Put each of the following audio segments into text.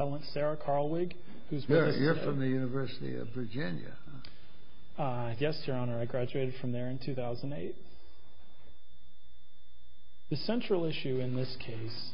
Sarodjiny Carlwig v. Sarodjiny Carlwig The central issue in this case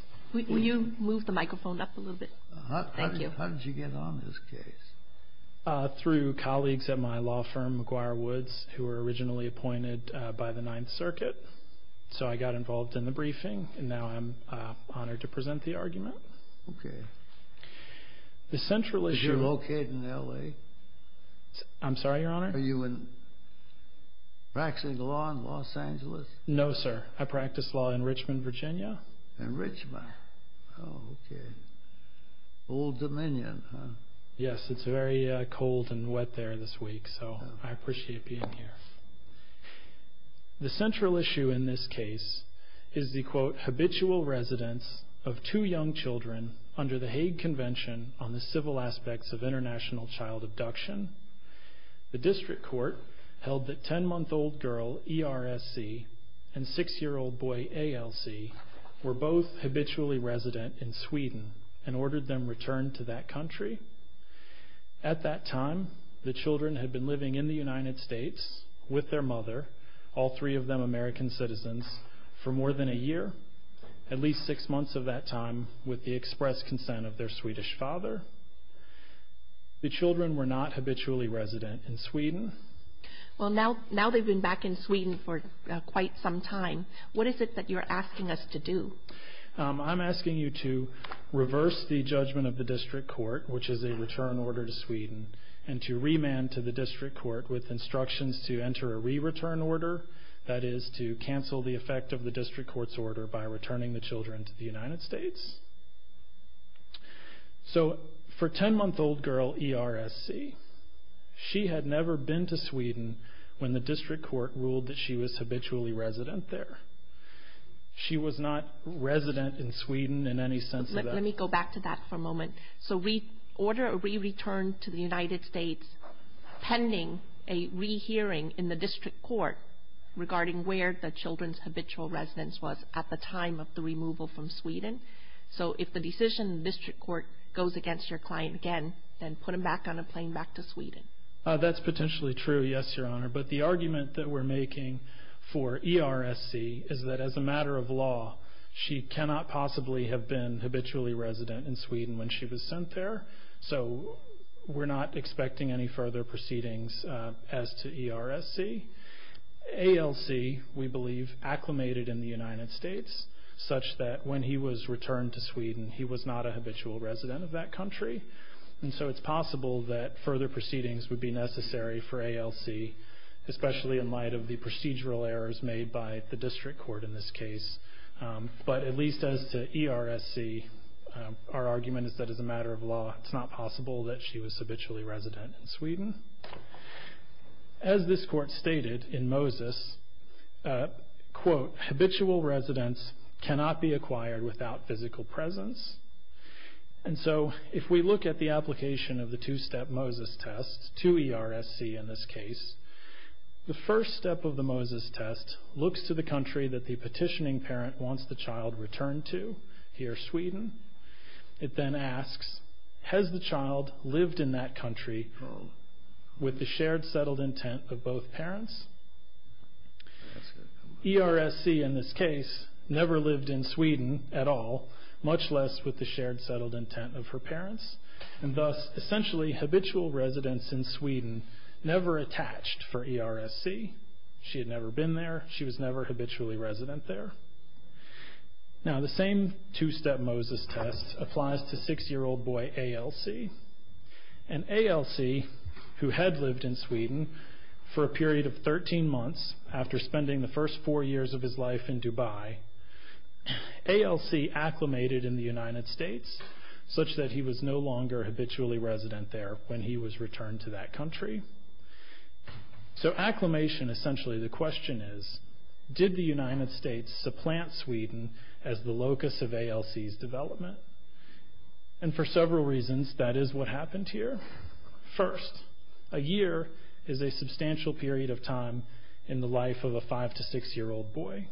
is the quote habitual residence of two young children under the Hague Convention on the Civil Aspects of International Child Abduction. The district court held that 10-month-old girl ERSC and 6-year-old boy ALC were both habitually resident in Sweden and ordered them returned to that country. At that time, the children had been living in the United States with their mother, all three of them American citizens, for more than a year, at least six months of that time, with the express consent of their Swedish father. The children were not habitually resident in Sweden. Well, now they've been back in Sweden for quite some time. What is it that you're asking us to do? I'm asking you to reverse the judgment of the district court, which is a return order to Sweden, and to remand to the district court with instructions to enter a re-return order, that is, to cancel the effect of the district court's order by returning the children to the United States. So for 10-month-old girl ERSC, she had never been to Sweden when the district court ruled that she was habitually resident there. She was not resident in Sweden in any sense of that. Let me go back to that for a moment. So we order a re-return to the United States pending a re-hearing in the district court regarding where the children's habitual residence was at the time of the removal from Sweden. So if the decision in the district court goes against your client again, then put them back on a plane back to Sweden. That's potentially true, yes, Your Honor. But the argument that we're making for ERSC is that as a habitually resident in Sweden when she was sent there, so we're not expecting any further proceedings as to ERSC. ALC, we believe, acclimated in the United States such that when he was returned to Sweden, he was not a habitual resident of that country. And so it's possible that further proceedings would be necessary for ALC, especially in light of the procedural errors made by the district court in this case. But at least as to ERSC, our argument is that as a matter of law, it's not possible that she was habitually resident in Sweden. As this court stated in Moses, quote, habitual residence cannot be acquired without physical presence. And so if we look at the application of the two-step Moses test to ERSC in this case, the first step of the Moses test looks to the country that the petitioning parent wants the child returned to, here, Sweden. It then asks, has the child lived in that country with the shared settled intent of both parents? ERSC in this case never lived in Sweden at all, much less with the shared settled intent of her parents. And thus, essentially, habitual residence in Sweden never attached for ERSC. She had never been there. She was never habitually resident there. Now the same two-step Moses test applies to six-year-old boy ALC. And ALC, who had lived in Sweden for a period of 13 months after spending the first four years of his life in Dubai, ALC acclimated in the United States, such that he was no longer habitually resident there when he was returned to that country. So acclimation, essentially, the question is, did the United States supplant Sweden as the locus of ALC's development? And for several reasons, that is what happened here. First, a year is a substantial period of time in the life of a five- to six-year-old boy.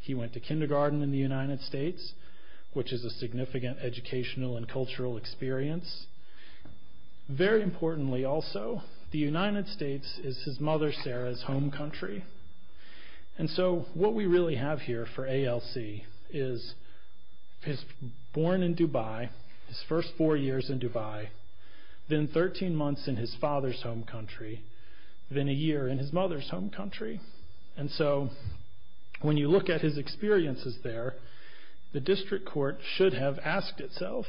He went to kindergarten in the United States, which is a significant educational and cultural experience. Very importantly also, the United States is his mother Sarah's home country. And so what we really have here for ALC is he's born in Dubai, his first four years in Dubai, then 13 months in his father's home country, then a year in his mother's home country. And so when you look at his experiences there, the district court should have asked itself,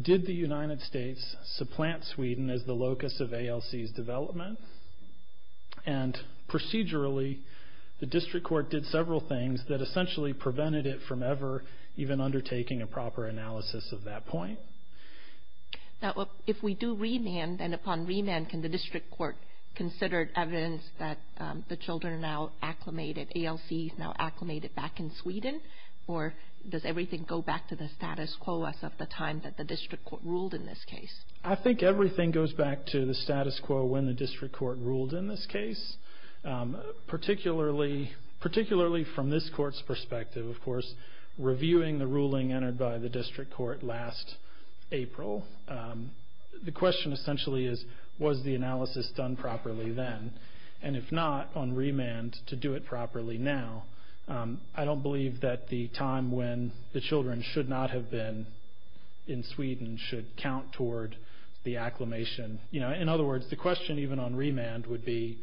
did the United States supplant Sweden as the locus of ALC's development? And procedurally, the district court did several things that essentially prevented it from ever even undertaking a proper analysis of that point. Now, if we do remand, then upon remand, can the district court consider evidence that the children are now acclimated, ALC is now acclimated back in Sweden? Or does everything go back to the status quo as of the time that the district court ruled in this case? I think everything goes back to the status quo when the district court ruled in this case. Reviewing the ruling entered by the district court last April, the question essentially is, was the analysis done properly then? And if not, on remand, to do it properly now, I don't believe that the time when the children should not have been in Sweden should count toward the acclimation. In other words, the question even on remand would be,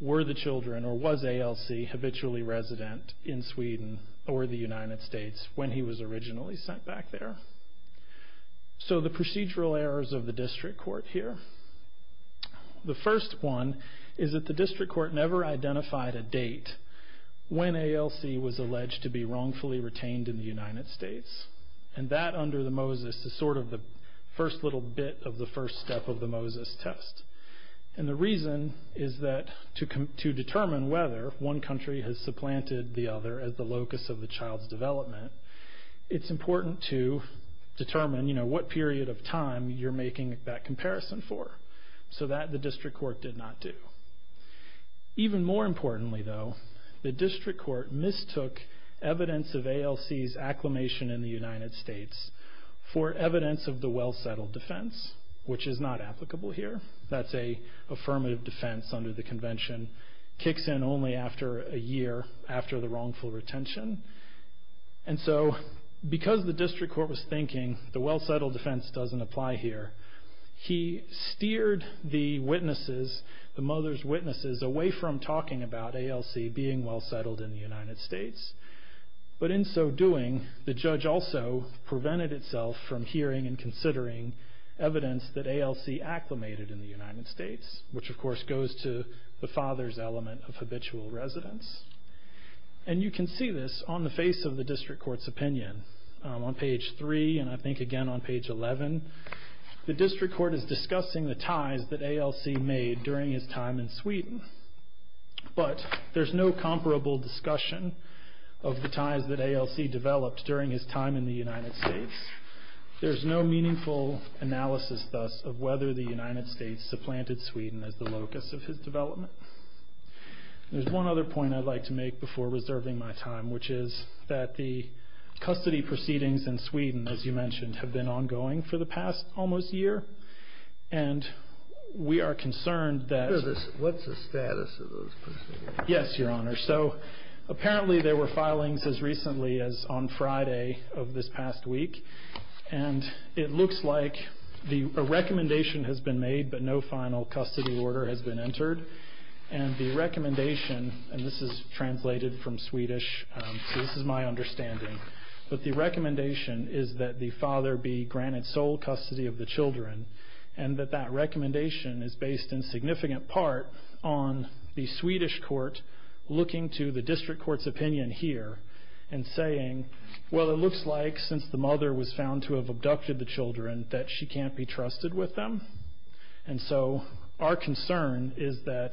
were the children or was ALC habitually resident in Sweden or the United States when he was originally sent back there? So the procedural errors of the district court here. The first one is that the district court never identified a date when ALC was alleged to be wrongfully retained in the United States. And that under the Moses is sort of the first little bit of the first step of the Moses test. And the reason is that to determine whether one country has supplanted the other as the locus of the child's development, it's important to determine, you know, what period of time you're making that comparison for. So that the district court did not do. Even more importantly though, the district court mistook evidence of ALC's acclimation in the United States for evidence of the well-settled defense, which is not applicable here. That's a affirmative defense under the convention. Kicks in only after a year after the wrongful retention. And so because the district court was thinking the well-settled defense doesn't apply here, he steered the witnesses, the mother's witnesses, away from talking about ALC being well-settled in the United States. But in so doing, the judge also prevented itself from hearing and considering evidence that ALC acclimated in the United States. Which of course goes to the father's element of habitual residence. And you can see this on the face of the district court's opinion. On page 3 and I think again on page 11, the district court is discussing the ties that ALC made during his time in Sweden. But there's no comparable discussion of the ties that ALC developed during his time in the United States. There's no meaningful analysis thus of whether the United States supplanted Sweden as the locus of his development. There's one other point I'd like to make before reserving my time, which is that the custody proceedings in Sweden, as you mentioned, have been ongoing for the past almost year. And we are concerned that... What's the status of those proceedings? Yes, Your Honor. So apparently there were filings as recently as on Friday of this past week. And it looks like a recommendation has been made but no final custody order has been entered. And the recommendation, and this is translated from Swedish, so this is my understanding. But the recommendation is that the father be granted sole custody of the children. And that that recommendation is based in significant part on the Swedish court looking to the district court's opinion here. And saying, well it looks like since the mother was found to have abducted the children that she can't be trusted with them. And so our concern is that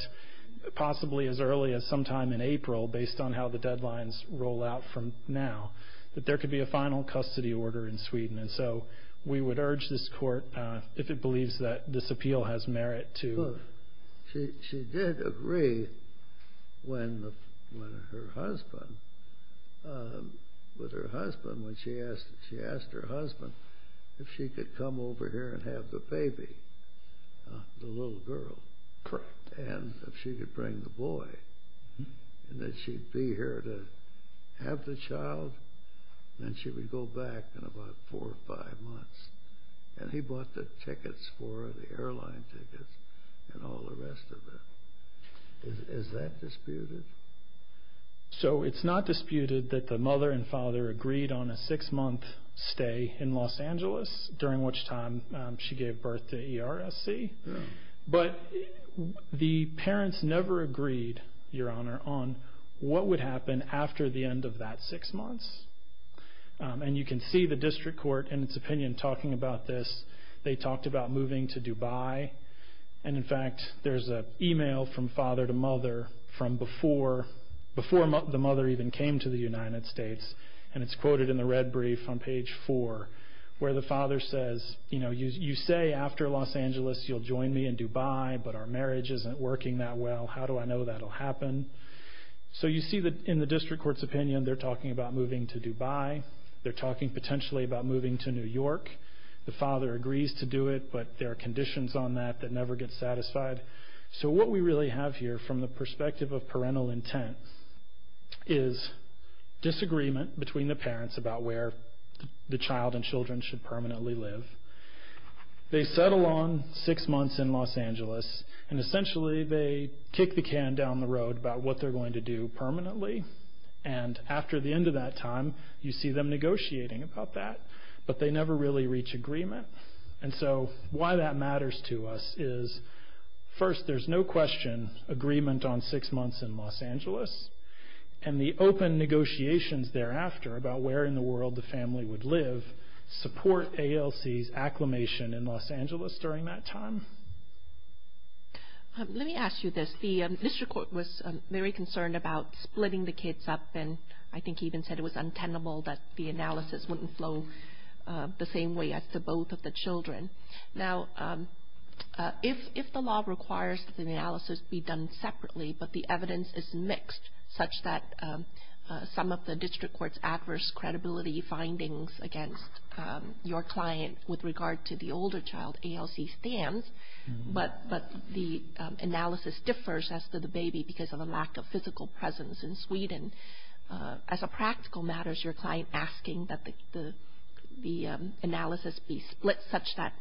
possibly as early as sometime in April, based on how the deadlines roll out from now, that there could be a final custody order in Sweden. And so we would urge this court, if it believes that this appeal has merit to... With her husband, when she asked her husband if she could come over here and have the baby, the little girl. Correct. And if she could bring the boy. And that she'd be here to have the child and she would go back in about four or five months. And he bought the tickets for her, the airline tickets and all the rest of it. Is that disputed? So it's not disputed that the mother and father agreed on a six month stay in Los Angeles. During which time she gave birth to ERSC. But the parents never agreed, your honor, on what would happen after the end of that six months. And you can see the district court in its opinion talking about this. They talked about moving to Dubai. And in fact, there's an email from father to mother from before the mother even came to the United States. And it's quoted in the red brief on page four. Where the father says, you know, you say after Los Angeles you'll join me in Dubai. But our marriage isn't working that well. How do I know that'll happen? So you see that in the district court's opinion, they're talking about moving to Dubai. They're talking potentially about moving to New York. The father agrees to do it, but there are conditions on that that never get satisfied. So what we really have here from the perspective of parental intent. Is disagreement between the parents about where the child and children should permanently live. They settle on six months in Los Angeles. And essentially they kick the can down the road about what they're going to do permanently. And after the end of that time, you see them negotiating about that. But they never really reach agreement. And so why that matters to us is first there's no question agreement on six months in Los Angeles. And the open negotiations thereafter about where in the world the family would live. Support ALC's acclimation in Los Angeles during that time. Let me ask you this. The district court was very concerned about splitting the kids up. And I think he even said it was untenable that the analysis wouldn't flow the same way as to both of the children. Now, if the law requires that the analysis be done separately, but the evidence is mixed. Such that some of the district court's adverse credibility findings against your client with regard to the older child ALC stands. But the analysis differs as to the baby because of the lack of physical presence in Sweden. As a practical matter, is your client asking that the analysis be split such that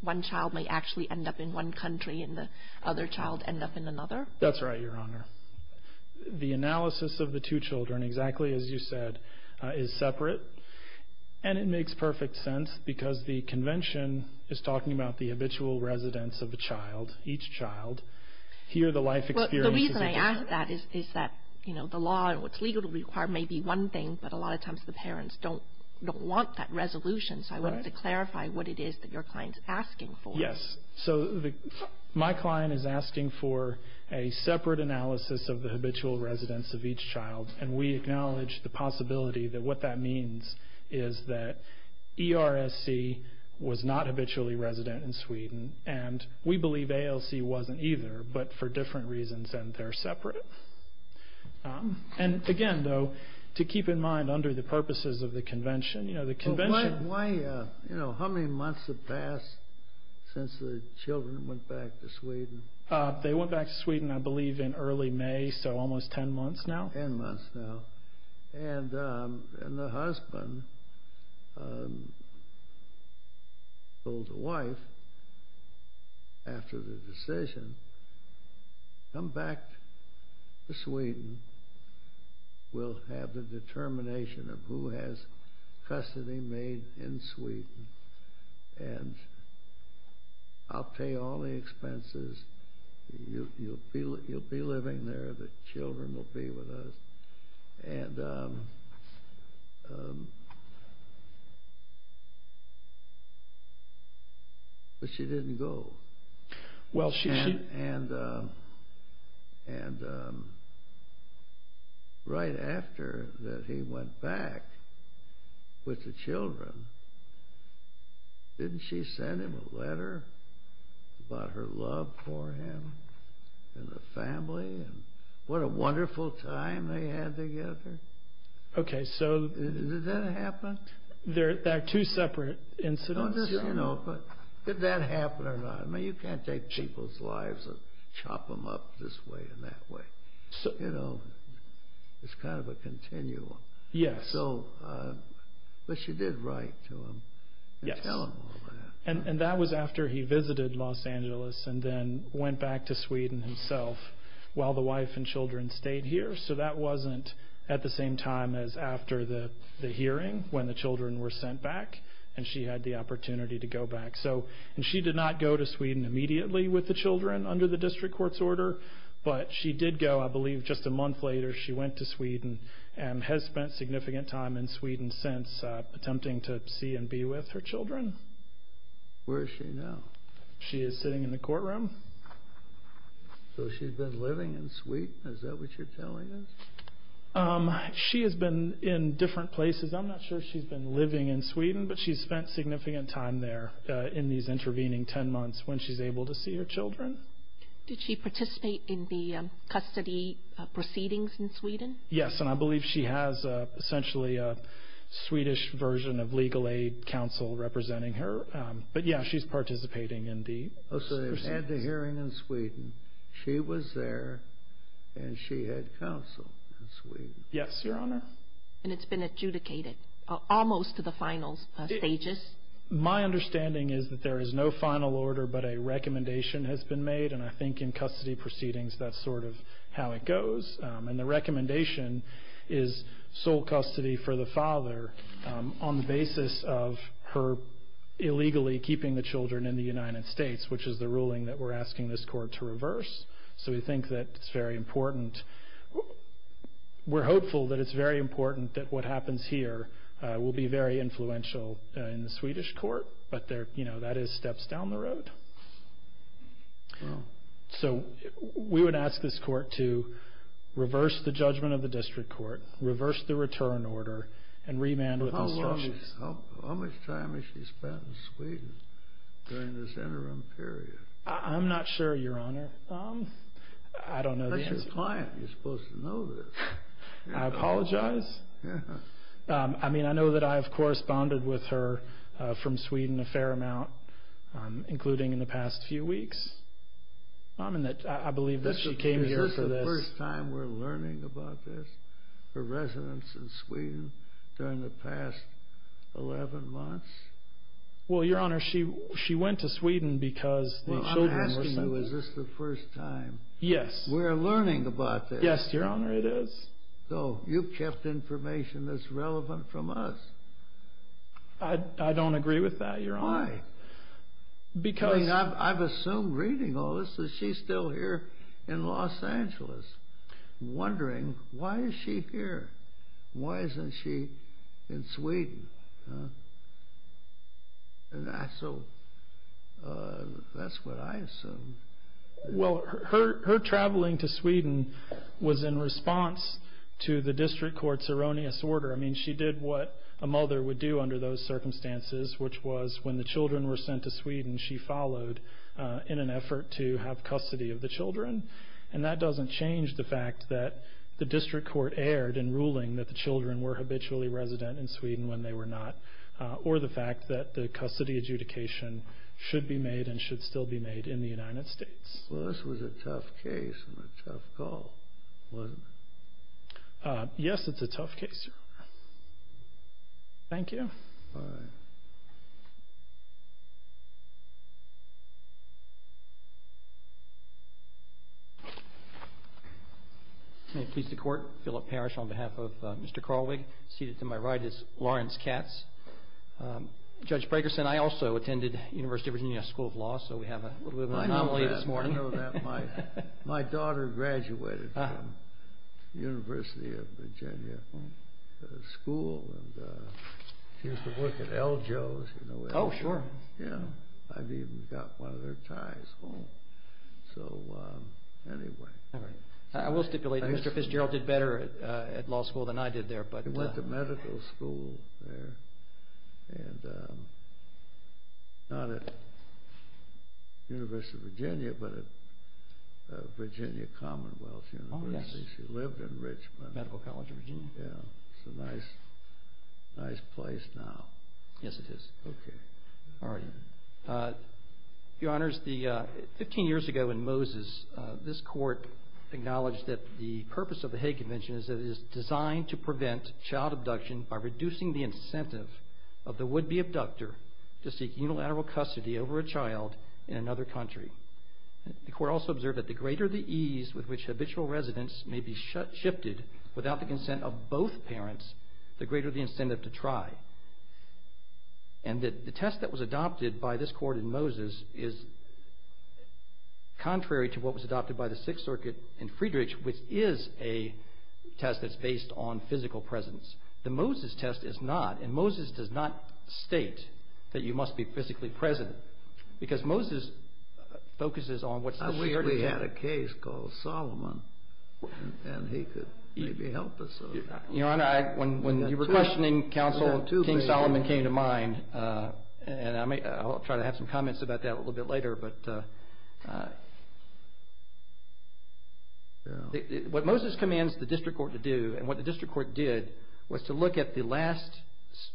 one child may actually end up in one country and the other child end up in another? That's right, Your Honor. The analysis of the two children, exactly as you said, is separate. And it makes perfect sense because the convention is talking about the habitual residence of a child, each child. Here the life experience is different. The reason I ask that is that the law and what's legally required may be one thing. But a lot of times the parents don't want that resolution. So I wanted to clarify what it is that your client is asking for. Yes. So my client is asking for a separate analysis of the habitual residence of each child. And we acknowledge the possibility that what that means is that ERSC was not habitually resident in Sweden. And we believe ALC wasn't either, but for different reasons and they're separate. And again, though, to keep in mind under the purposes of the convention, you know, the convention... Why, you know, how many months have passed since the children went back to Sweden? They went back to Sweden, I believe, in early May, so almost 10 months now. And the husband told the wife, after the decision, come back to Sweden. We'll have the determination of who has custody made in Sweden and I'll pay all the expenses. You'll be living there, the children will be with us. But she didn't go. And right after that he went back with the children, didn't she send him a letter about her love for him and the family? What a wonderful time they had together. Okay, so... Did that happen? They're two separate incidents. Did that happen or not? I mean, you can't take people's lives and chop them up this way and that way. You know, it's kind of a continuum. Yes. So, but she did write to him and tell him all that. And that was after he visited Los Angeles and then went back to Sweden himself while the wife and children stayed here. So that wasn't at the same time as after the hearing when the children were sent back and she had the opportunity to go back. And she did not go to Sweden immediately with the children under the district court's order. But she did go, I believe, just a month later. She went to Sweden and has spent significant time in Sweden since, attempting to see and be with her children. Where is she now? She is sitting in the courtroom. So she's been living in Sweden? Is that what you're telling us? She has been in different places. I'm not sure she's been living in Sweden, but she's spent significant time there in these intervening 10 months when she's able to see her children. Did she participate in the custody proceedings in Sweden? Yes, and I believe she has essentially a Swedish version of legal aid counsel representing her. But, yeah, she's participating in the proceedings. So they've had the hearing in Sweden. She was there and she had counsel in Sweden. Yes, Your Honor. And it's been adjudicated almost to the final stages? My understanding is that there is no final order but a recommendation has been made, and I think in custody proceedings that's sort of how it goes. And the recommendation is sole custody for the father on the basis of her illegally keeping the children in the United States, which is the ruling that we're asking this court to reverse. So we think that it's very important. We're hopeful that it's very important that what happens here will be very influential in the Swedish court, but that is steps down the road. So we would ask this court to reverse the judgment of the district court, reverse the return order, and remand with instructions. How much time has she spent in Sweden during this interim period? I'm not sure, Your Honor. That's your client. You're supposed to know this. I apologize. I mean, I know that I have corresponded with her from Sweden a fair amount, including in the past few weeks, and I believe that she came here for this. Is this the first time we're learning about this, her residence in Sweden during the past 11 months? Well, Your Honor, she went to Sweden because the children were sent there. Well, I'm asking you, is this the first time we're learning about this? Yes, Your Honor, it is. So you've kept information that's relevant from us. I don't agree with that, Your Honor. Why? Because... I mean, I've assumed reading all this that she's still here in Los Angeles, wondering, why is she here? Why isn't she in Sweden? So that's what I assume. Well, her traveling to Sweden was in response to the district court's erroneous order. I mean, she did what a mother would do under those circumstances, which was when the children were sent to Sweden, she followed in an effort to have custody of the children. And that doesn't change the fact that the district court erred in ruling that the children were habitually resident in Sweden when they were not, or the fact that the custody adjudication should be made and should still be made in the United States. Well, this was a tough case and a tough call, wasn't it? Yes, it's a tough case, Your Honor. Thank you. Bye. Thank you, Your Honor. May it please the Court, Philip Parrish on behalf of Mr. Carlwig, seated to my right is Lawrence Katz. Judge Brakerson, I also attended University of Virginia School of Law, so we have a little bit of an anomaly this morning. My daughter graduated from University of Virginia School, and she used to work at L. Joe's. Oh, sure. Yeah. I've even got one of their ties home. So, anyway. I will stipulate that Mr. Fitzgerald did better at law school than I did there. He went to medical school there, and not at University of Virginia, but at Virginia Commonwealth University. Oh, yes. She lived in Richmond. Medical College of Virginia. Yeah. It's a nice place now. Yes, it is. Okay. All right. Your Honors, 15 years ago in Moses, this Court acknowledged that the purpose of the Hague Convention is that it is designed to prevent child abduction by reducing the incentive of the would-be abductor to seek unilateral custody over a child in another country. The Court also observed that the greater the ease with which habitual residents may be shifted without the consent of both parents, the greater the incentive to try. And that the test that was adopted by this Court in Moses is contrary to what was adopted by the Sixth Circuit in Friedrich, which is a test that's based on physical presence. The Moses test is not, and Moses does not state that you must be physically present, because Moses focuses on what's the weirdest thing. We had a case called Solomon, and he could maybe help us with that. Your Honor, when you were questioning counsel, King Solomon came to mind, and I'll try to have some comments about that a little bit later. What Moses commands the District Court to do, and what the District Court did, was to look at the last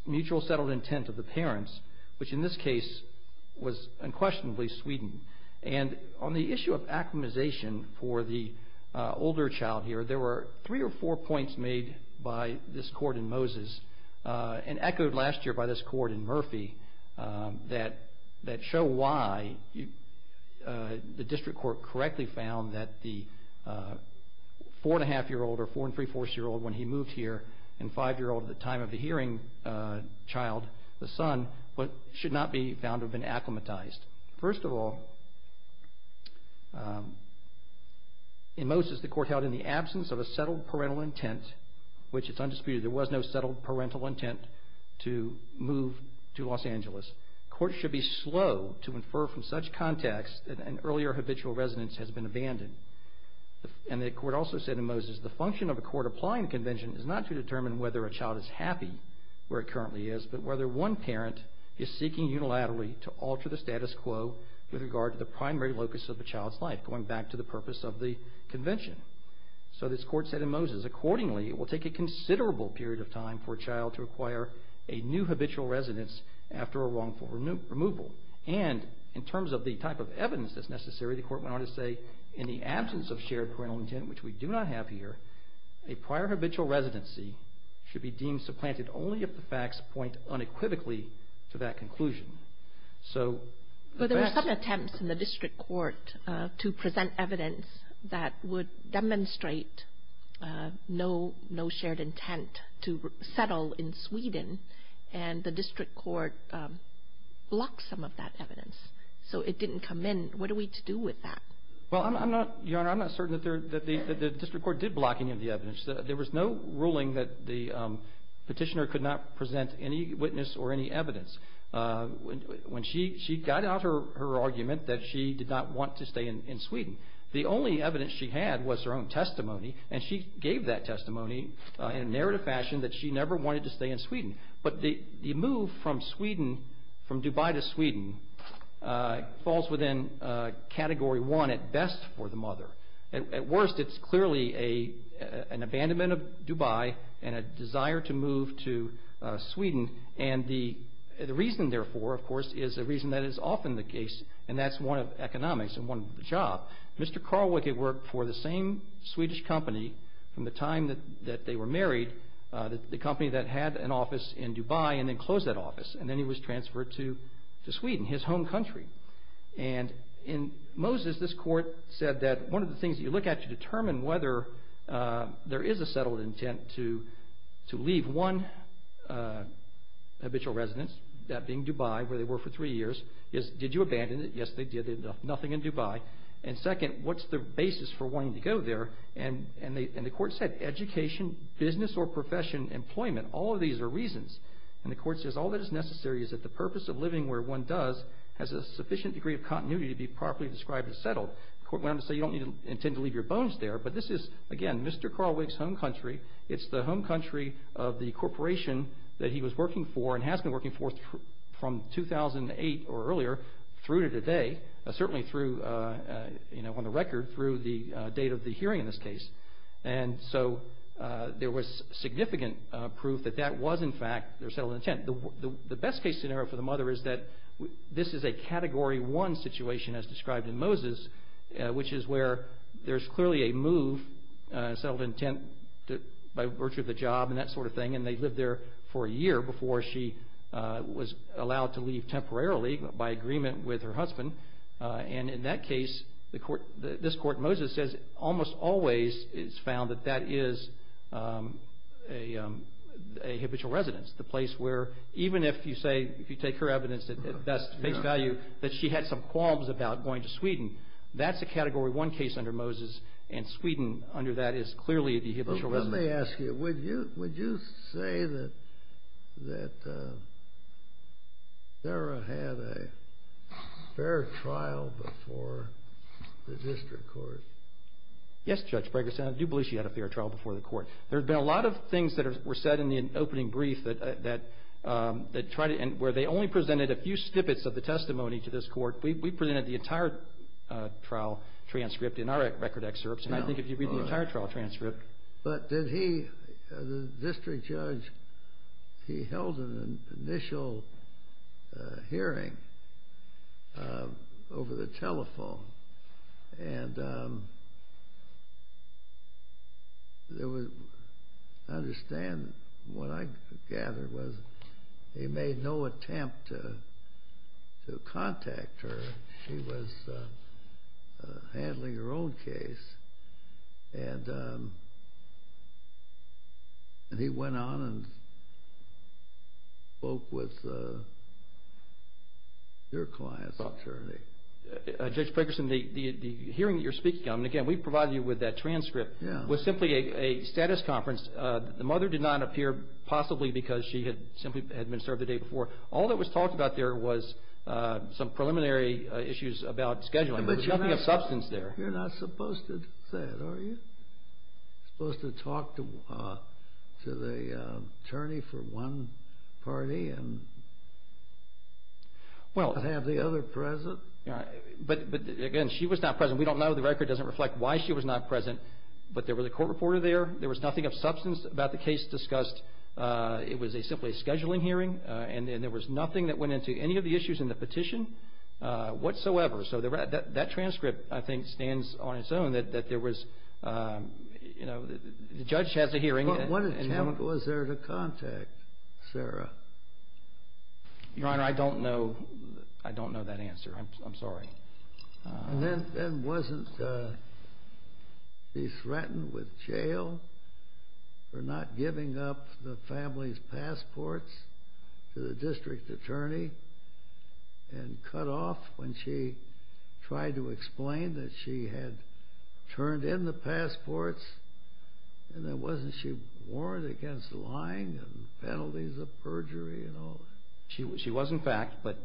mutual settled intent of the parents, which in this case was unquestionably Sweden. And on the issue of acclimatization for the older child here, there were three or four points made by this Court in Moses, and echoed last year by this Court in Murphy, that show why the District Court correctly found that the four-and-a-half-year-old or four-and-three-fourths-year-old when he moved here, and five-year-old at the time of the hearing child, the son, should not be found to have been acclimatized. First of all, in Moses, the Court held in the absence of a settled parental intent, which is undisputed. There was no settled parental intent to move to Los Angeles. Courts should be slow to infer from such context that an earlier habitual residence has been abandoned. And the Court also said in Moses, the function of a court applying the convention is not to determine whether a child is happy where it currently is, but whether one parent is seeking unilaterally to alter the status quo with regard to the primary locus of the child's life, going back to the purpose of the convention. So this Court said in Moses, accordingly, it will take a considerable period of time for a child to acquire a new habitual residence after a wrongful removal. And in terms of the type of evidence that's necessary, the Court went on to say, in the absence of shared parental intent, which we do not have here, a prior habitual residency should be deemed supplanted only if the facts point unequivocally to that conclusion. So the best… But there were some attempts in the District Court to present evidence that would demonstrate no shared intent to settle in Sweden, and the District Court blocked some of that evidence. So it didn't come in. What are we to do with that? Well, Your Honor, I'm not certain that the District Court did block any of the evidence. There was no ruling that the petitioner could not present any witness or any evidence. When she got out her argument that she did not want to stay in Sweden, the only evidence she had was her own testimony, and she gave that testimony in a narrative fashion that she never wanted to stay in Sweden. But the move from Sweden, from Dubai to Sweden, falls within Category 1 at best for the mother. At worst, it's clearly an abandonment of Dubai and a desire to move to Sweden. And the reason, therefore, of course, is a reason that is often the case, and that's one of economics and one of the job. Mr. Carl Wicke worked for the same Swedish company from the time that they were married, the company that had an office in Dubai and then closed that office, and then he was transferred to Sweden, his home country. And in Moses, this court said that one of the things that you look at to determine whether there is a settled intent to leave one habitual residence, that being Dubai, where they were for three years, is did you abandon it? Yes, they did. Nothing in Dubai. And second, what's the basis for wanting to go there? And the court said education, business or profession, employment. All of these are reasons. And the court says all that is necessary is that the purpose of living where one does has a sufficient degree of continuity to be properly described as settled. The court went on to say you don't intend to leave your bones there, but this is, again, Mr. Carl Wicke's home country. It's the home country of the corporation that he was working for and has been working for from 2008 or earlier through to today, certainly on the record through the date of the hearing in this case. And so there was significant proof that that was, in fact, their settled intent. The best case scenario for the mother is that this is a Category 1 situation as described in Moses, which is where there's clearly a move, a settled intent by virtue of the job and that sort of thing, and they lived there for a year before she was allowed to leave temporarily by agreement with her husband. And in that case, this court in Moses says it almost always is found that that is a habitual residence, the place where even if you say, if you take her evidence at best, face value, that she had some qualms about going to Sweden, that's a Category 1 case under Moses, and Sweden under that is clearly a habitual residence. Let me ask you, would you say that Sarah had a fair trial before the district court? Yes, Judge Bregerson. I do believe she had a fair trial before the court. There have been a lot of things that were said in the opening brief where they only presented a few snippets of the testimony to this court. We presented the entire trial transcript in our record excerpts, and I think if you read the entire trial transcript. But did he, the district judge, he held an initial hearing over the telephone, and there was, I understand, what I gather was he made no attempt to contact her. She was handling her own case, and he went on and spoke with your client's attorney. Judge Bregerson, the hearing that you're speaking of, and again, we provided you with that transcript, was simply a status conference. The mother did not appear possibly because she had simply been served the day before. All that was talked about there was some preliminary issues about scheduling. There was nothing of substance there. You're not supposed to do that, are you? You're supposed to talk to the attorney for one party and have the other present? But again, she was not present. We don't know. The record doesn't reflect why she was not present, but there was a court reporter there. There was nothing of substance about the case discussed. It was simply a scheduling hearing, and there was nothing that went into any of the issues in the petition whatsoever. So that transcript, I think, stands on its own that there was, you know, the judge has a hearing. What attempt was there to contact Sarah? Your Honor, I don't know that answer. I'm sorry. And then wasn't she threatened with jail for not giving up the family's passports to the district attorney and cut off when she tried to explain that she had turned in the passports? And then wasn't she warned against lying and penalties of perjury and all that? She was, in fact. But,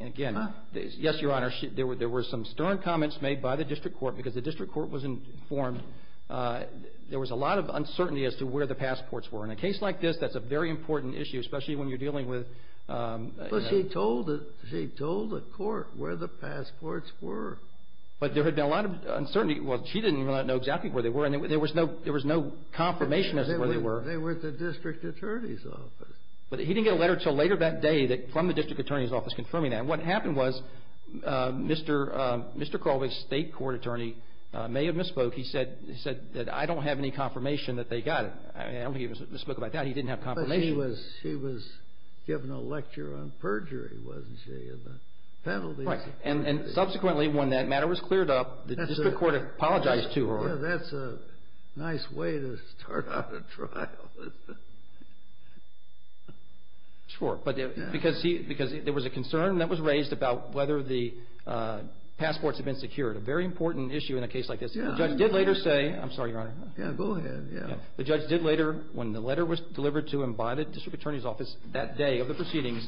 again, yes, Your Honor, there were some stern comments made by the district court because the district court was informed there was a lot of uncertainty as to where the passports were. In a case like this, that's a very important issue, especially when you're dealing with the ---- But she told the court where the passports were. But there had been a lot of uncertainty. Well, she did not know exactly where they were, and there was no confirmation as to where they were. They were at the district attorney's office. But he didn't get a letter until later that day from the district attorney's office confirming that. And what happened was Mr. Crawley's state court attorney may have misspoke. He said that I don't have any confirmation that they got it. I don't think he misspoke about that. He didn't have confirmation. But she was given a lecture on perjury, wasn't she, and the penalties. Right. And subsequently, when that matter was cleared up, the district court apologized to her. Well, that's a nice way to start out a trial. Sure. Because there was a concern that was raised about whether the passports had been secured, a very important issue in a case like this. The judge did later say ---- I'm sorry, Your Honor. Yeah, go ahead. The judge did later, when the letter was delivered to him by the district attorney's office that day of the proceedings,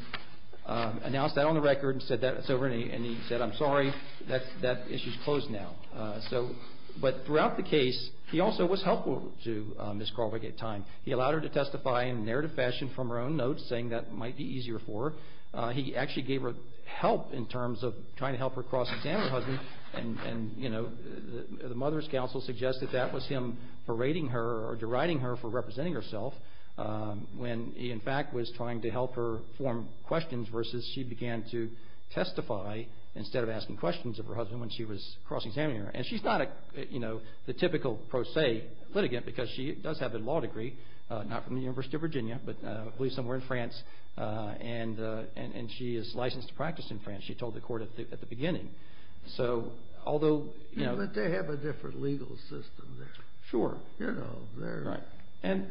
announce that on the record and said that it's over, and he said, I'm sorry, that issue's closed now. But throughout the case, he also was helpful to Ms. Crawley at times. He allowed her to testify in a narrative fashion from her own notes, saying that might be easier for her. He actually gave her help in terms of trying to help her cross-examine her husband, and the mother's counsel suggested that was him berating her or deriding her for representing herself when he, in fact, was trying to help her form questions versus she began to testify instead of asking questions of her husband when she was cross-examining her. And she's not, you know, the typical pro se litigant because she does have a law degree, not from the University of Virginia, but I believe somewhere in France, and she is licensed to practice in France, she told the court at the beginning. So although, you know ---- But they have a different legal system there. Sure. You know, they're ---- Right.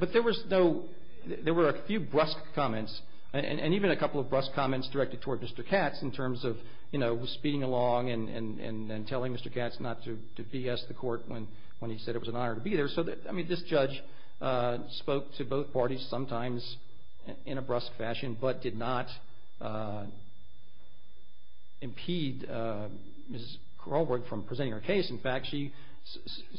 But there was no ---- there were a few brusque comments, and even a couple of brusque comments directed toward Mr. Katz in terms of, you know, speeding along and telling Mr. Katz not to BS the court when he said it was an honor to be there. So, I mean, this judge spoke to both parties sometimes in a brusque fashion but did not impede Ms. Crawley from presenting her case. In fact, she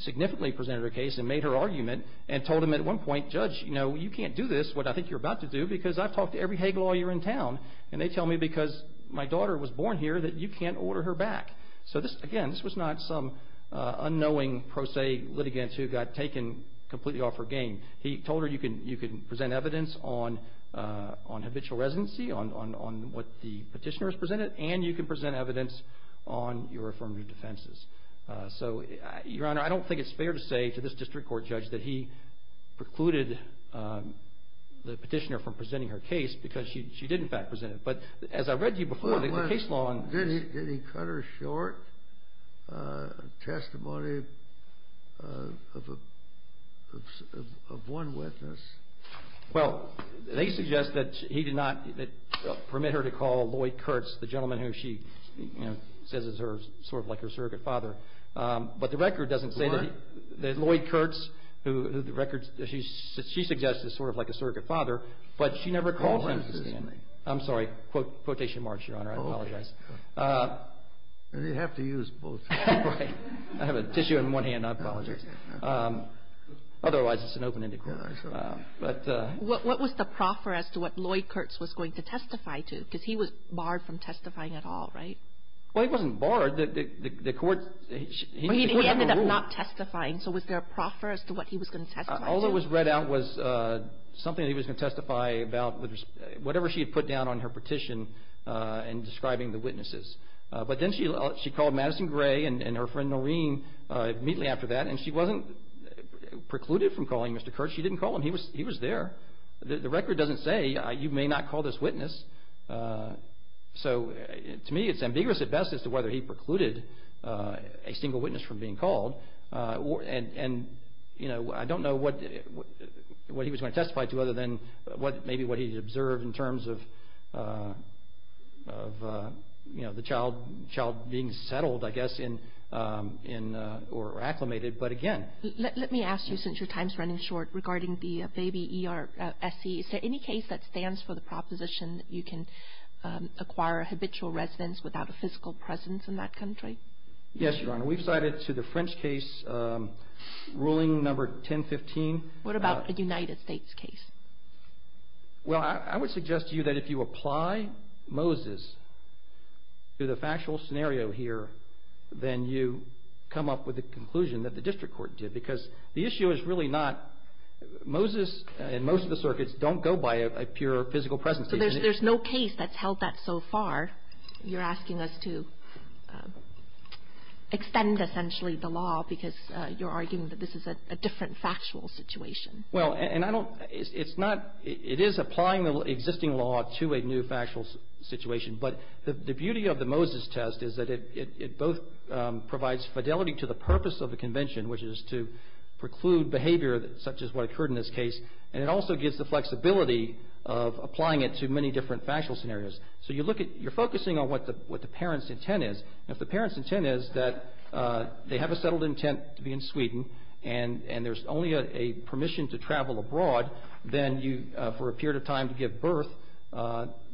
significantly presented her case and made her argument and told him at one point, Judge, you know, you can't do this, what I think you're about to do, because I've talked to every Hague lawyer in town, and they tell me because my daughter was born here that you can't order her back. So this, again, this was not some unknowing pro se litigant who got taken completely off her game. He told her you can present evidence on habitual residency, on what the petitioner has presented, and you can present evidence on your affirmative defenses. So, Your Honor, I don't think it's fair to say to this district court judge that he precluded the petitioner from presenting her case because she did, in fact, present it. But as I read to you before, the case law on this ---- Did he cut her short testimony of one witness? Well, they suggest that he did not permit her to call Lloyd Kurtz, the gentleman who she, you know, says is sort of like her surrogate father. But the record doesn't say that Lloyd Kurtz, who the record, she suggests is sort of like a surrogate father, but she never called him to stand. I'm sorry. Quotation marks, Your Honor. I apologize. You have to use both. Right. I have a tissue in one hand. I apologize. Otherwise, it's an open-ended court. What was the proffer as to what Lloyd Kurtz was going to testify to? Because he was barred from testifying at all, right? Well, he wasn't barred. The court ---- He ended up not testifying, so was there a proffer as to what he was going to testify to? All that was read out was something that he was going to testify about, whatever she had put down on her petition in describing the witnesses. But then she called Madison Gray and her friend Noreen immediately after that, and she wasn't precluded from calling Mr. Kurtz. She didn't call him. He was there. The record doesn't say you may not call this witness. So, to me, it's ambiguous at best as to whether he precluded a single witness from being called. And, you know, I don't know what he was going to testify to other than maybe what he observed in terms of, you know, the child being settled, I guess, or acclimated. But, again ---- Let me ask you, since your time is running short, regarding the baby E.R.S.E., is there any case that stands for the proposition that you can acquire a habitual residence without a physical presence in that country? Yes, Your Honor. We've cited to the French case ruling number 1015. What about a United States case? Well, I would suggest to you that if you apply Moses to the factual scenario here, then you come up with a conclusion that the district court did. Because the issue is really not Moses and most of the circuits don't go by a pure physical presence. So there's no case that's held that so far. You're asking us to extend, essentially, the law because you're arguing that this is a different factual situation. Well, and I don't ---- It's not ---- It is applying the existing law to a new factual situation. But the beauty of the Moses test is that it both provides fidelity to the purpose of the convention, which is to preclude behavior such as what occurred in this case, and it also gives the flexibility of applying it to many different factual scenarios. So you look at ---- You're focusing on what the parent's intent is. If the parent's intent is that they have a settled intent to be in Sweden and there's only a permission to travel abroad for a period of time to give birth,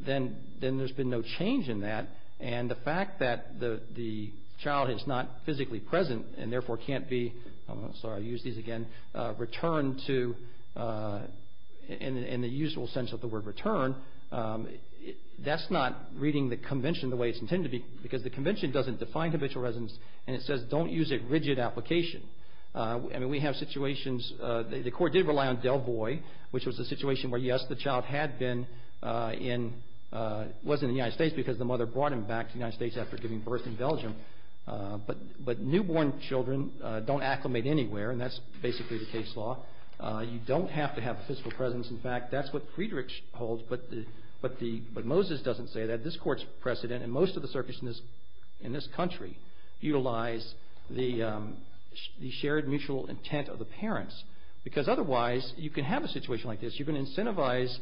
then there's been no change in that. And the fact that the child is not physically present and, therefore, can't be ---- I'm sorry, I'll use these again ---- returned to in the usual sense of the word return, that's not reading the convention the way it's intended to be. Because the convention doesn't define habitual residence, and it says don't use a rigid application. I mean, we have situations ---- The court did rely on Delvoy, which was a situation where, yes, the child had been in ---- was in the United States because the mother brought him back to the United States after giving birth in Belgium. But newborn children don't acclimate anywhere, and that's basically the case law. You don't have to have a physical presence. In fact, that's what Friedrichs holds, but Moses doesn't say that. This court's precedent and most of the circuits in this country utilize the shared mutual intent of the parents because otherwise you can have a situation like this. You can incentivize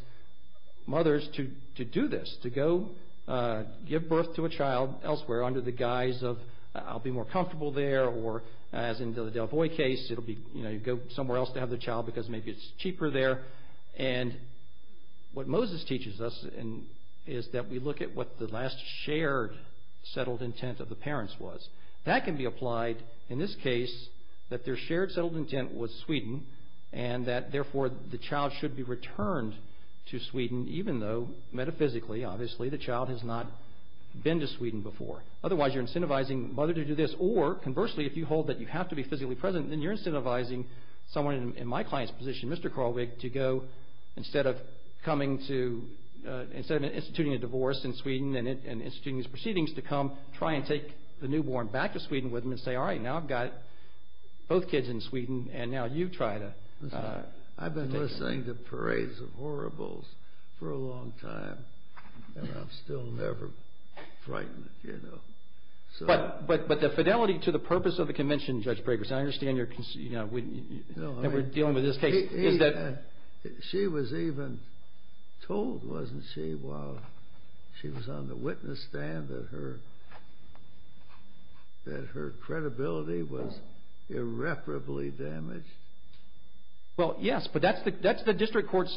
mothers to do this, to go give birth to a child elsewhere under the guise of I'll be more comfortable there or, as in the Delvoy case, you go somewhere else to have the child because maybe it's cheaper there. What Moses teaches us is that we look at what the last shared settled intent of the parents was. That can be applied in this case that their shared settled intent was Sweden and that, therefore, the child should be returned to Sweden even though metaphysically, obviously, the child has not been to Sweden before. Otherwise, you're incentivizing the mother to do this or, conversely, if you hold that you have to be physically present, then you're incentivizing someone in my client's position, Mr. Kralvig, to go instead of instituting a divorce in Sweden and instituting these proceedings to come try and take the newborn back to Sweden with him and say, all right, now I've got both kids in Sweden and now you try to take them. I've been listening to parades of horribles for a long time and I'm still never frightened, you know. But the fidelity to the purpose of the convention, Judge Briggers, and I understand that we're dealing with this case. She was even told, wasn't she, while she was on the witness stand that her credibility was irreparably damaged. Well, yes, but that's the district court's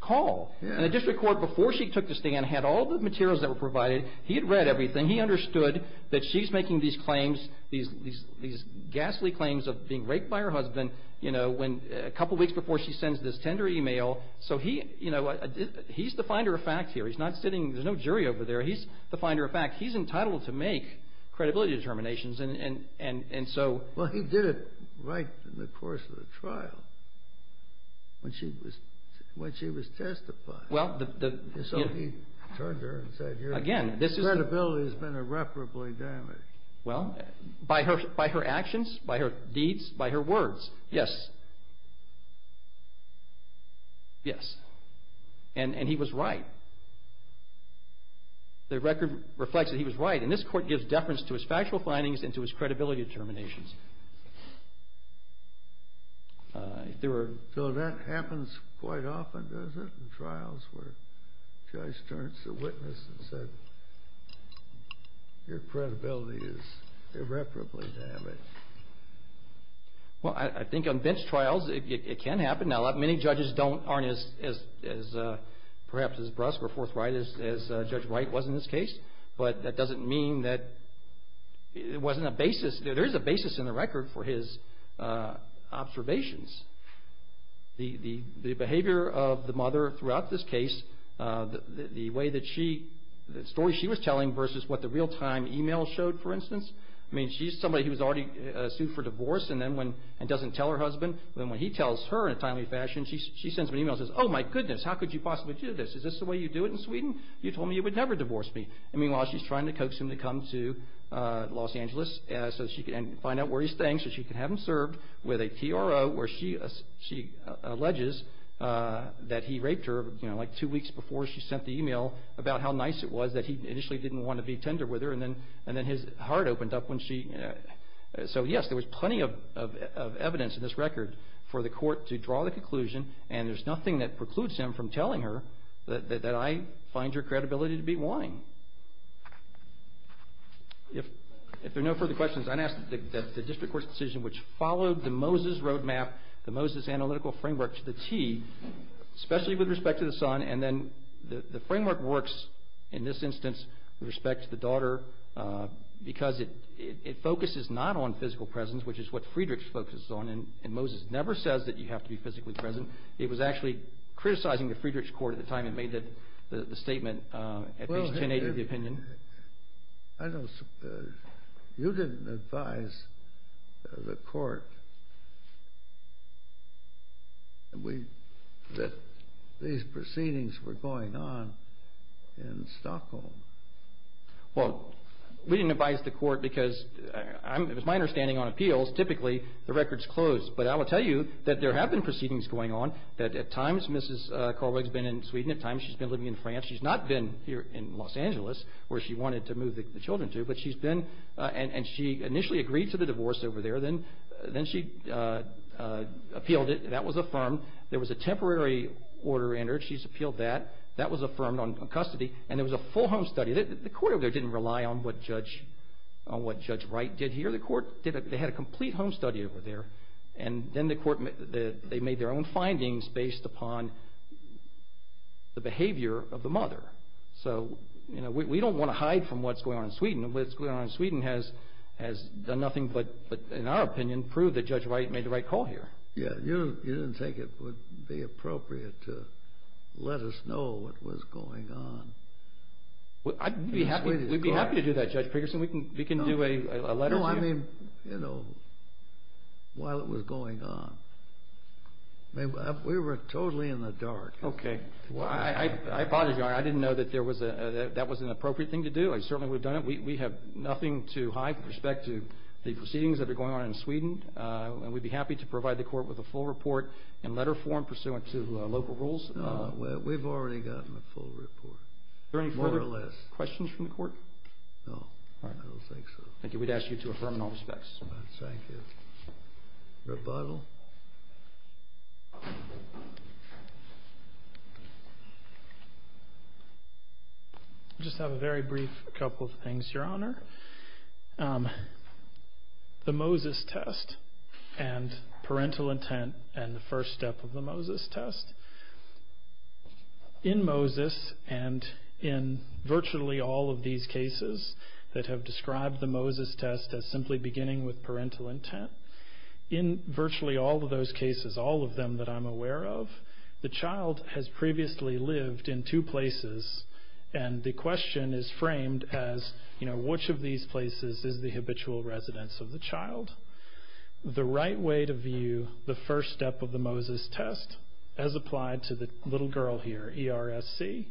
call. The district court, before she took the stand, had all the materials that were provided. He had read everything. He understood that she's making these claims, these ghastly claims of being raped by her husband, you know, a couple weeks before she sends this tender email. So he, you know, he's the finder of fact here. He's not sitting, there's no jury over there. He's the finder of fact. He's entitled to make credibility determinations and so. Well, he did it right in the course of the trial when she was testified. So he turned to her and said your credibility has been irreparably damaged. Well, by her actions, by her deeds, by her words, yes. Yes. And he was right. The record reflects that he was right. And this court gives deference to his factual findings and to his credibility determinations. So that happens quite often, does it, in trials where a judge turns to a witness and says your credibility is irreparably damaged? Well, I think on bench trials it can happen. Now, many judges aren't as, perhaps, as brusque or forthright as Judge Wright was in this case. But that doesn't mean that it wasn't a basis. There is a basis in the record for his observations. The behavior of the mother throughout this case, the way that she, the story she was telling versus what the real-time email showed, for instance. I mean, she's somebody who was already sued for divorce and then when, and doesn't tell her husband. Then when he tells her in a timely fashion, she sends him an email and says, oh, my goodness, how could you possibly do this? Is this the way you do it in Sweden? You told me you would never divorce me. Meanwhile, she's trying to coax him to come to Los Angeles so she can find out where he's staying so she can have him served with a TRO where she alleges that he raped her, you know, like two weeks before she sent the email, about how nice it was that he initially didn't want to be tender with her and then his heart opened up when she. So, yes, there was plenty of evidence in this record for the court to draw the conclusion and there's nothing that precludes him from telling her that I find your credibility to be lying. If there are no further questions, I'm going to ask that the district court's decision, which followed the Moses roadmap, the Moses analytical framework to the T, especially with respect to the son and then the framework works in this instance with respect to the daughter because it focuses not on physical presence, which is what Friedrichs focuses on, and Moses never says that you have to be physically present. It was actually criticizing the Friedrichs court at the time it made the statement at least 1080 to the opinion. I know you didn't advise the court that these proceedings were going on in Stockholm. Well, we didn't advise the court because it was my understanding on appeals, typically the records close, but I will tell you that there have been proceedings going on that at times Mrs. Korweg's been in Sweden, at times she's been living in France. She's not been here in Los Angeles where she wanted to move the children to, but she's been and she initially agreed to the divorce over there. Then she appealed it. That was affirmed. There was a temporary order entered. She's appealed that. That was affirmed on custody and it was a full home study. The court over there didn't rely on what Judge Wright did here. The court had a complete home study over there, and then the court made their own findings based upon the behavior of the mother. So we don't want to hide from what's going on in Sweden. What's going on in Sweden has done nothing but, in our opinion, prove that Judge Wright made the right call here. Yeah, you didn't think it would be appropriate to let us know what was going on. We'd be happy to do that, Judge Pregerson. We can do a letter to you. No, I mean, you know, while it was going on. We were totally in the dark. Okay. I apologize, Your Honor. I didn't know that that was an appropriate thing to do. I certainly would have done it. We have nothing to hide with respect to the proceedings that are going on in Sweden, and we'd be happy to provide the court with a full report in letter form pursuant to local rules. No, we've already gotten a full report, more or less. Are there any further questions from the court? No, I don't think so. Thank you. We'd ask you to affirm in all respects. Thank you. Rebuttal? I just have a very brief couple of things, Your Honor. The Moses test and parental intent and the first step of the Moses test. In Moses and in virtually all of these cases that have described the Moses test as simply beginning with parental intent, in virtually all of those cases, all of them that I'm aware of, the child has previously lived in two places, and the question is framed as, you know, which of these places is the habitual residence of the child? The right way to view the first step of the Moses test has applied to the little girl here, ERSC.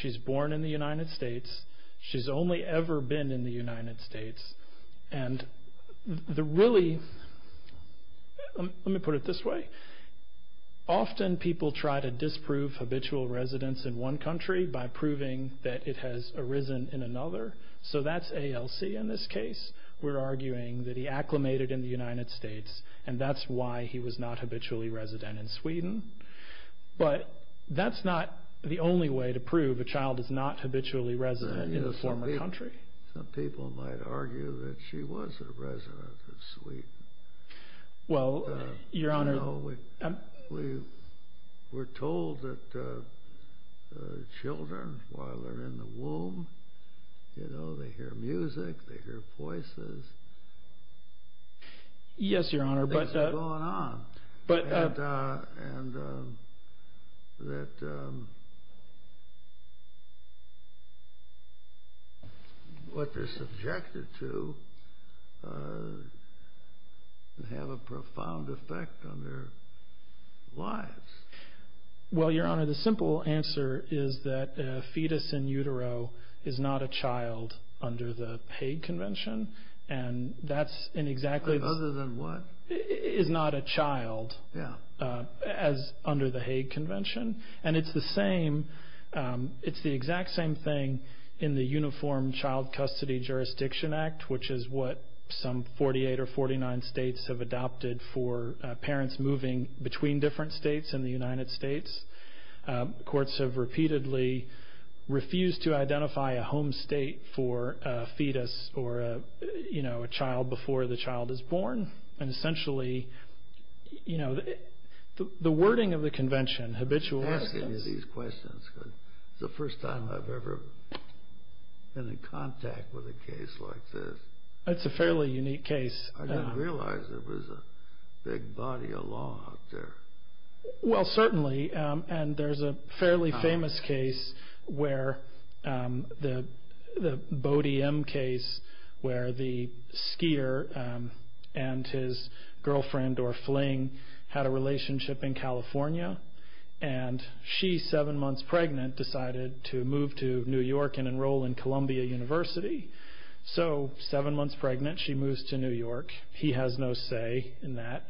She's born in the United States. She's only ever been in the United States. And the really, let me put it this way. Often people try to disprove habitual residence in one country by proving that it has arisen in another. So that's ALC in this case. We're arguing that he acclimated in the United States, and that's why he was not habitually resident in Sweden. But that's not the only way to prove a child is not habitually resident in a former country. Some people might argue that she was a resident of Sweden. Well, Your Honor. We're told that children, while they're in the womb, you know, they hear music, they hear voices. Yes, Your Honor. Things are going on. And that what they're subjected to can have a profound effect on their lives. Well, Your Honor, the simple answer is that a fetus in utero is not a child under the paid convention. And that's an exactly... Other than what? Is not a child as under the Hague Convention. And it's the same. It's the exact same thing in the Uniform Child Custody Jurisdiction Act, which is what some 48 or 49 states have adopted for parents moving between different states in the United States. Courts have repeatedly refused to identify a home state for a fetus or a child before the child is born. And essentially, you know, the wording of the convention, habitual residence... I'm asking you these questions because it's the first time I've ever been in contact with a case like this. It's a fairly unique case. I didn't realize there was a big body of law out there. Well, certainly. And there's a fairly famous case where the Bodie M case, where the skier and his girlfriend, Dora Fling, had a relationship in California. And she, seven months pregnant, decided to move to New York and enroll in Columbia University. So seven months pregnant, she moves to New York. He has no say in that.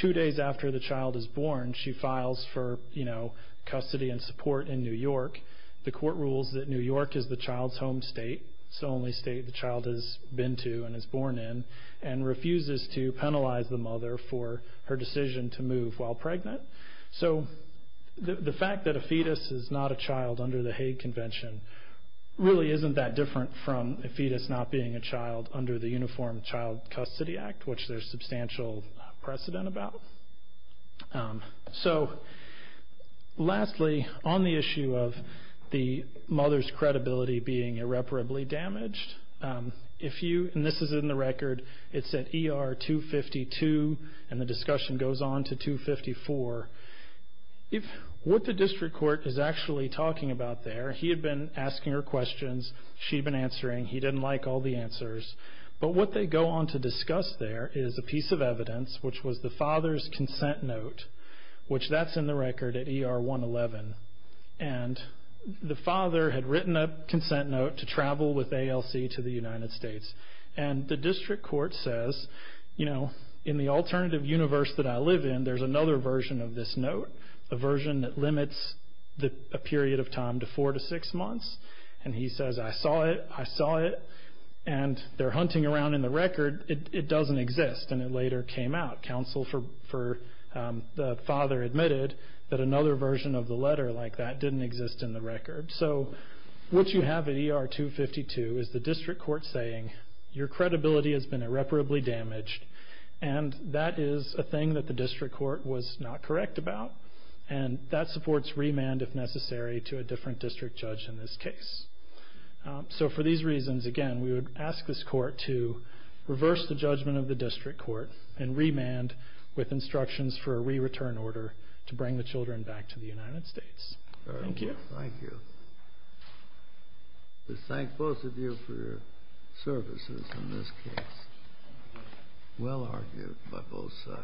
Two days after the child is born, she files for, you know, custody and support in New York. The court rules that New York is the child's home state. It's the only state the child has been to and is born in, and refuses to penalize the mother for her decision to move while pregnant. So the fact that a fetus is not a child under the Hague Convention really isn't that different from a fetus not being a child under the Uniform Child Custody Act, which there's substantial precedent about. So lastly, on the issue of the mother's credibility being irreparably damaged, and this is in the record, it's at ER 252, and the discussion goes on to 254. What the district court is actually talking about there, he had been asking her questions, she had been answering, he didn't like all the answers. But what they go on to discuss there is a piece of evidence, which was the father's consent note, which that's in the record at ER 111. And the father had written a consent note to travel with ALC to the United States. And the district court says, you know, in the alternative universe that I live in, there's another version of this note, a version that limits a period of time to four to six months. And he says, I saw it, I saw it, and they're hunting around in the record. It doesn't exist, and it later came out. Counsel for the father admitted that another version of the letter like that didn't exist in the record. So what you have at ER 252 is the district court saying your credibility has been irreparably damaged, and that is a thing that the district court was not correct about. And that supports remand if necessary to a different district judge in this case. So for these reasons, again, we would ask this court to reverse the judgment of the district court and remand with instructions for a re-return order to bring the children back to the United States. Thank you. Thank you. Let's thank both of you for your services in this case. Well argued by both sides.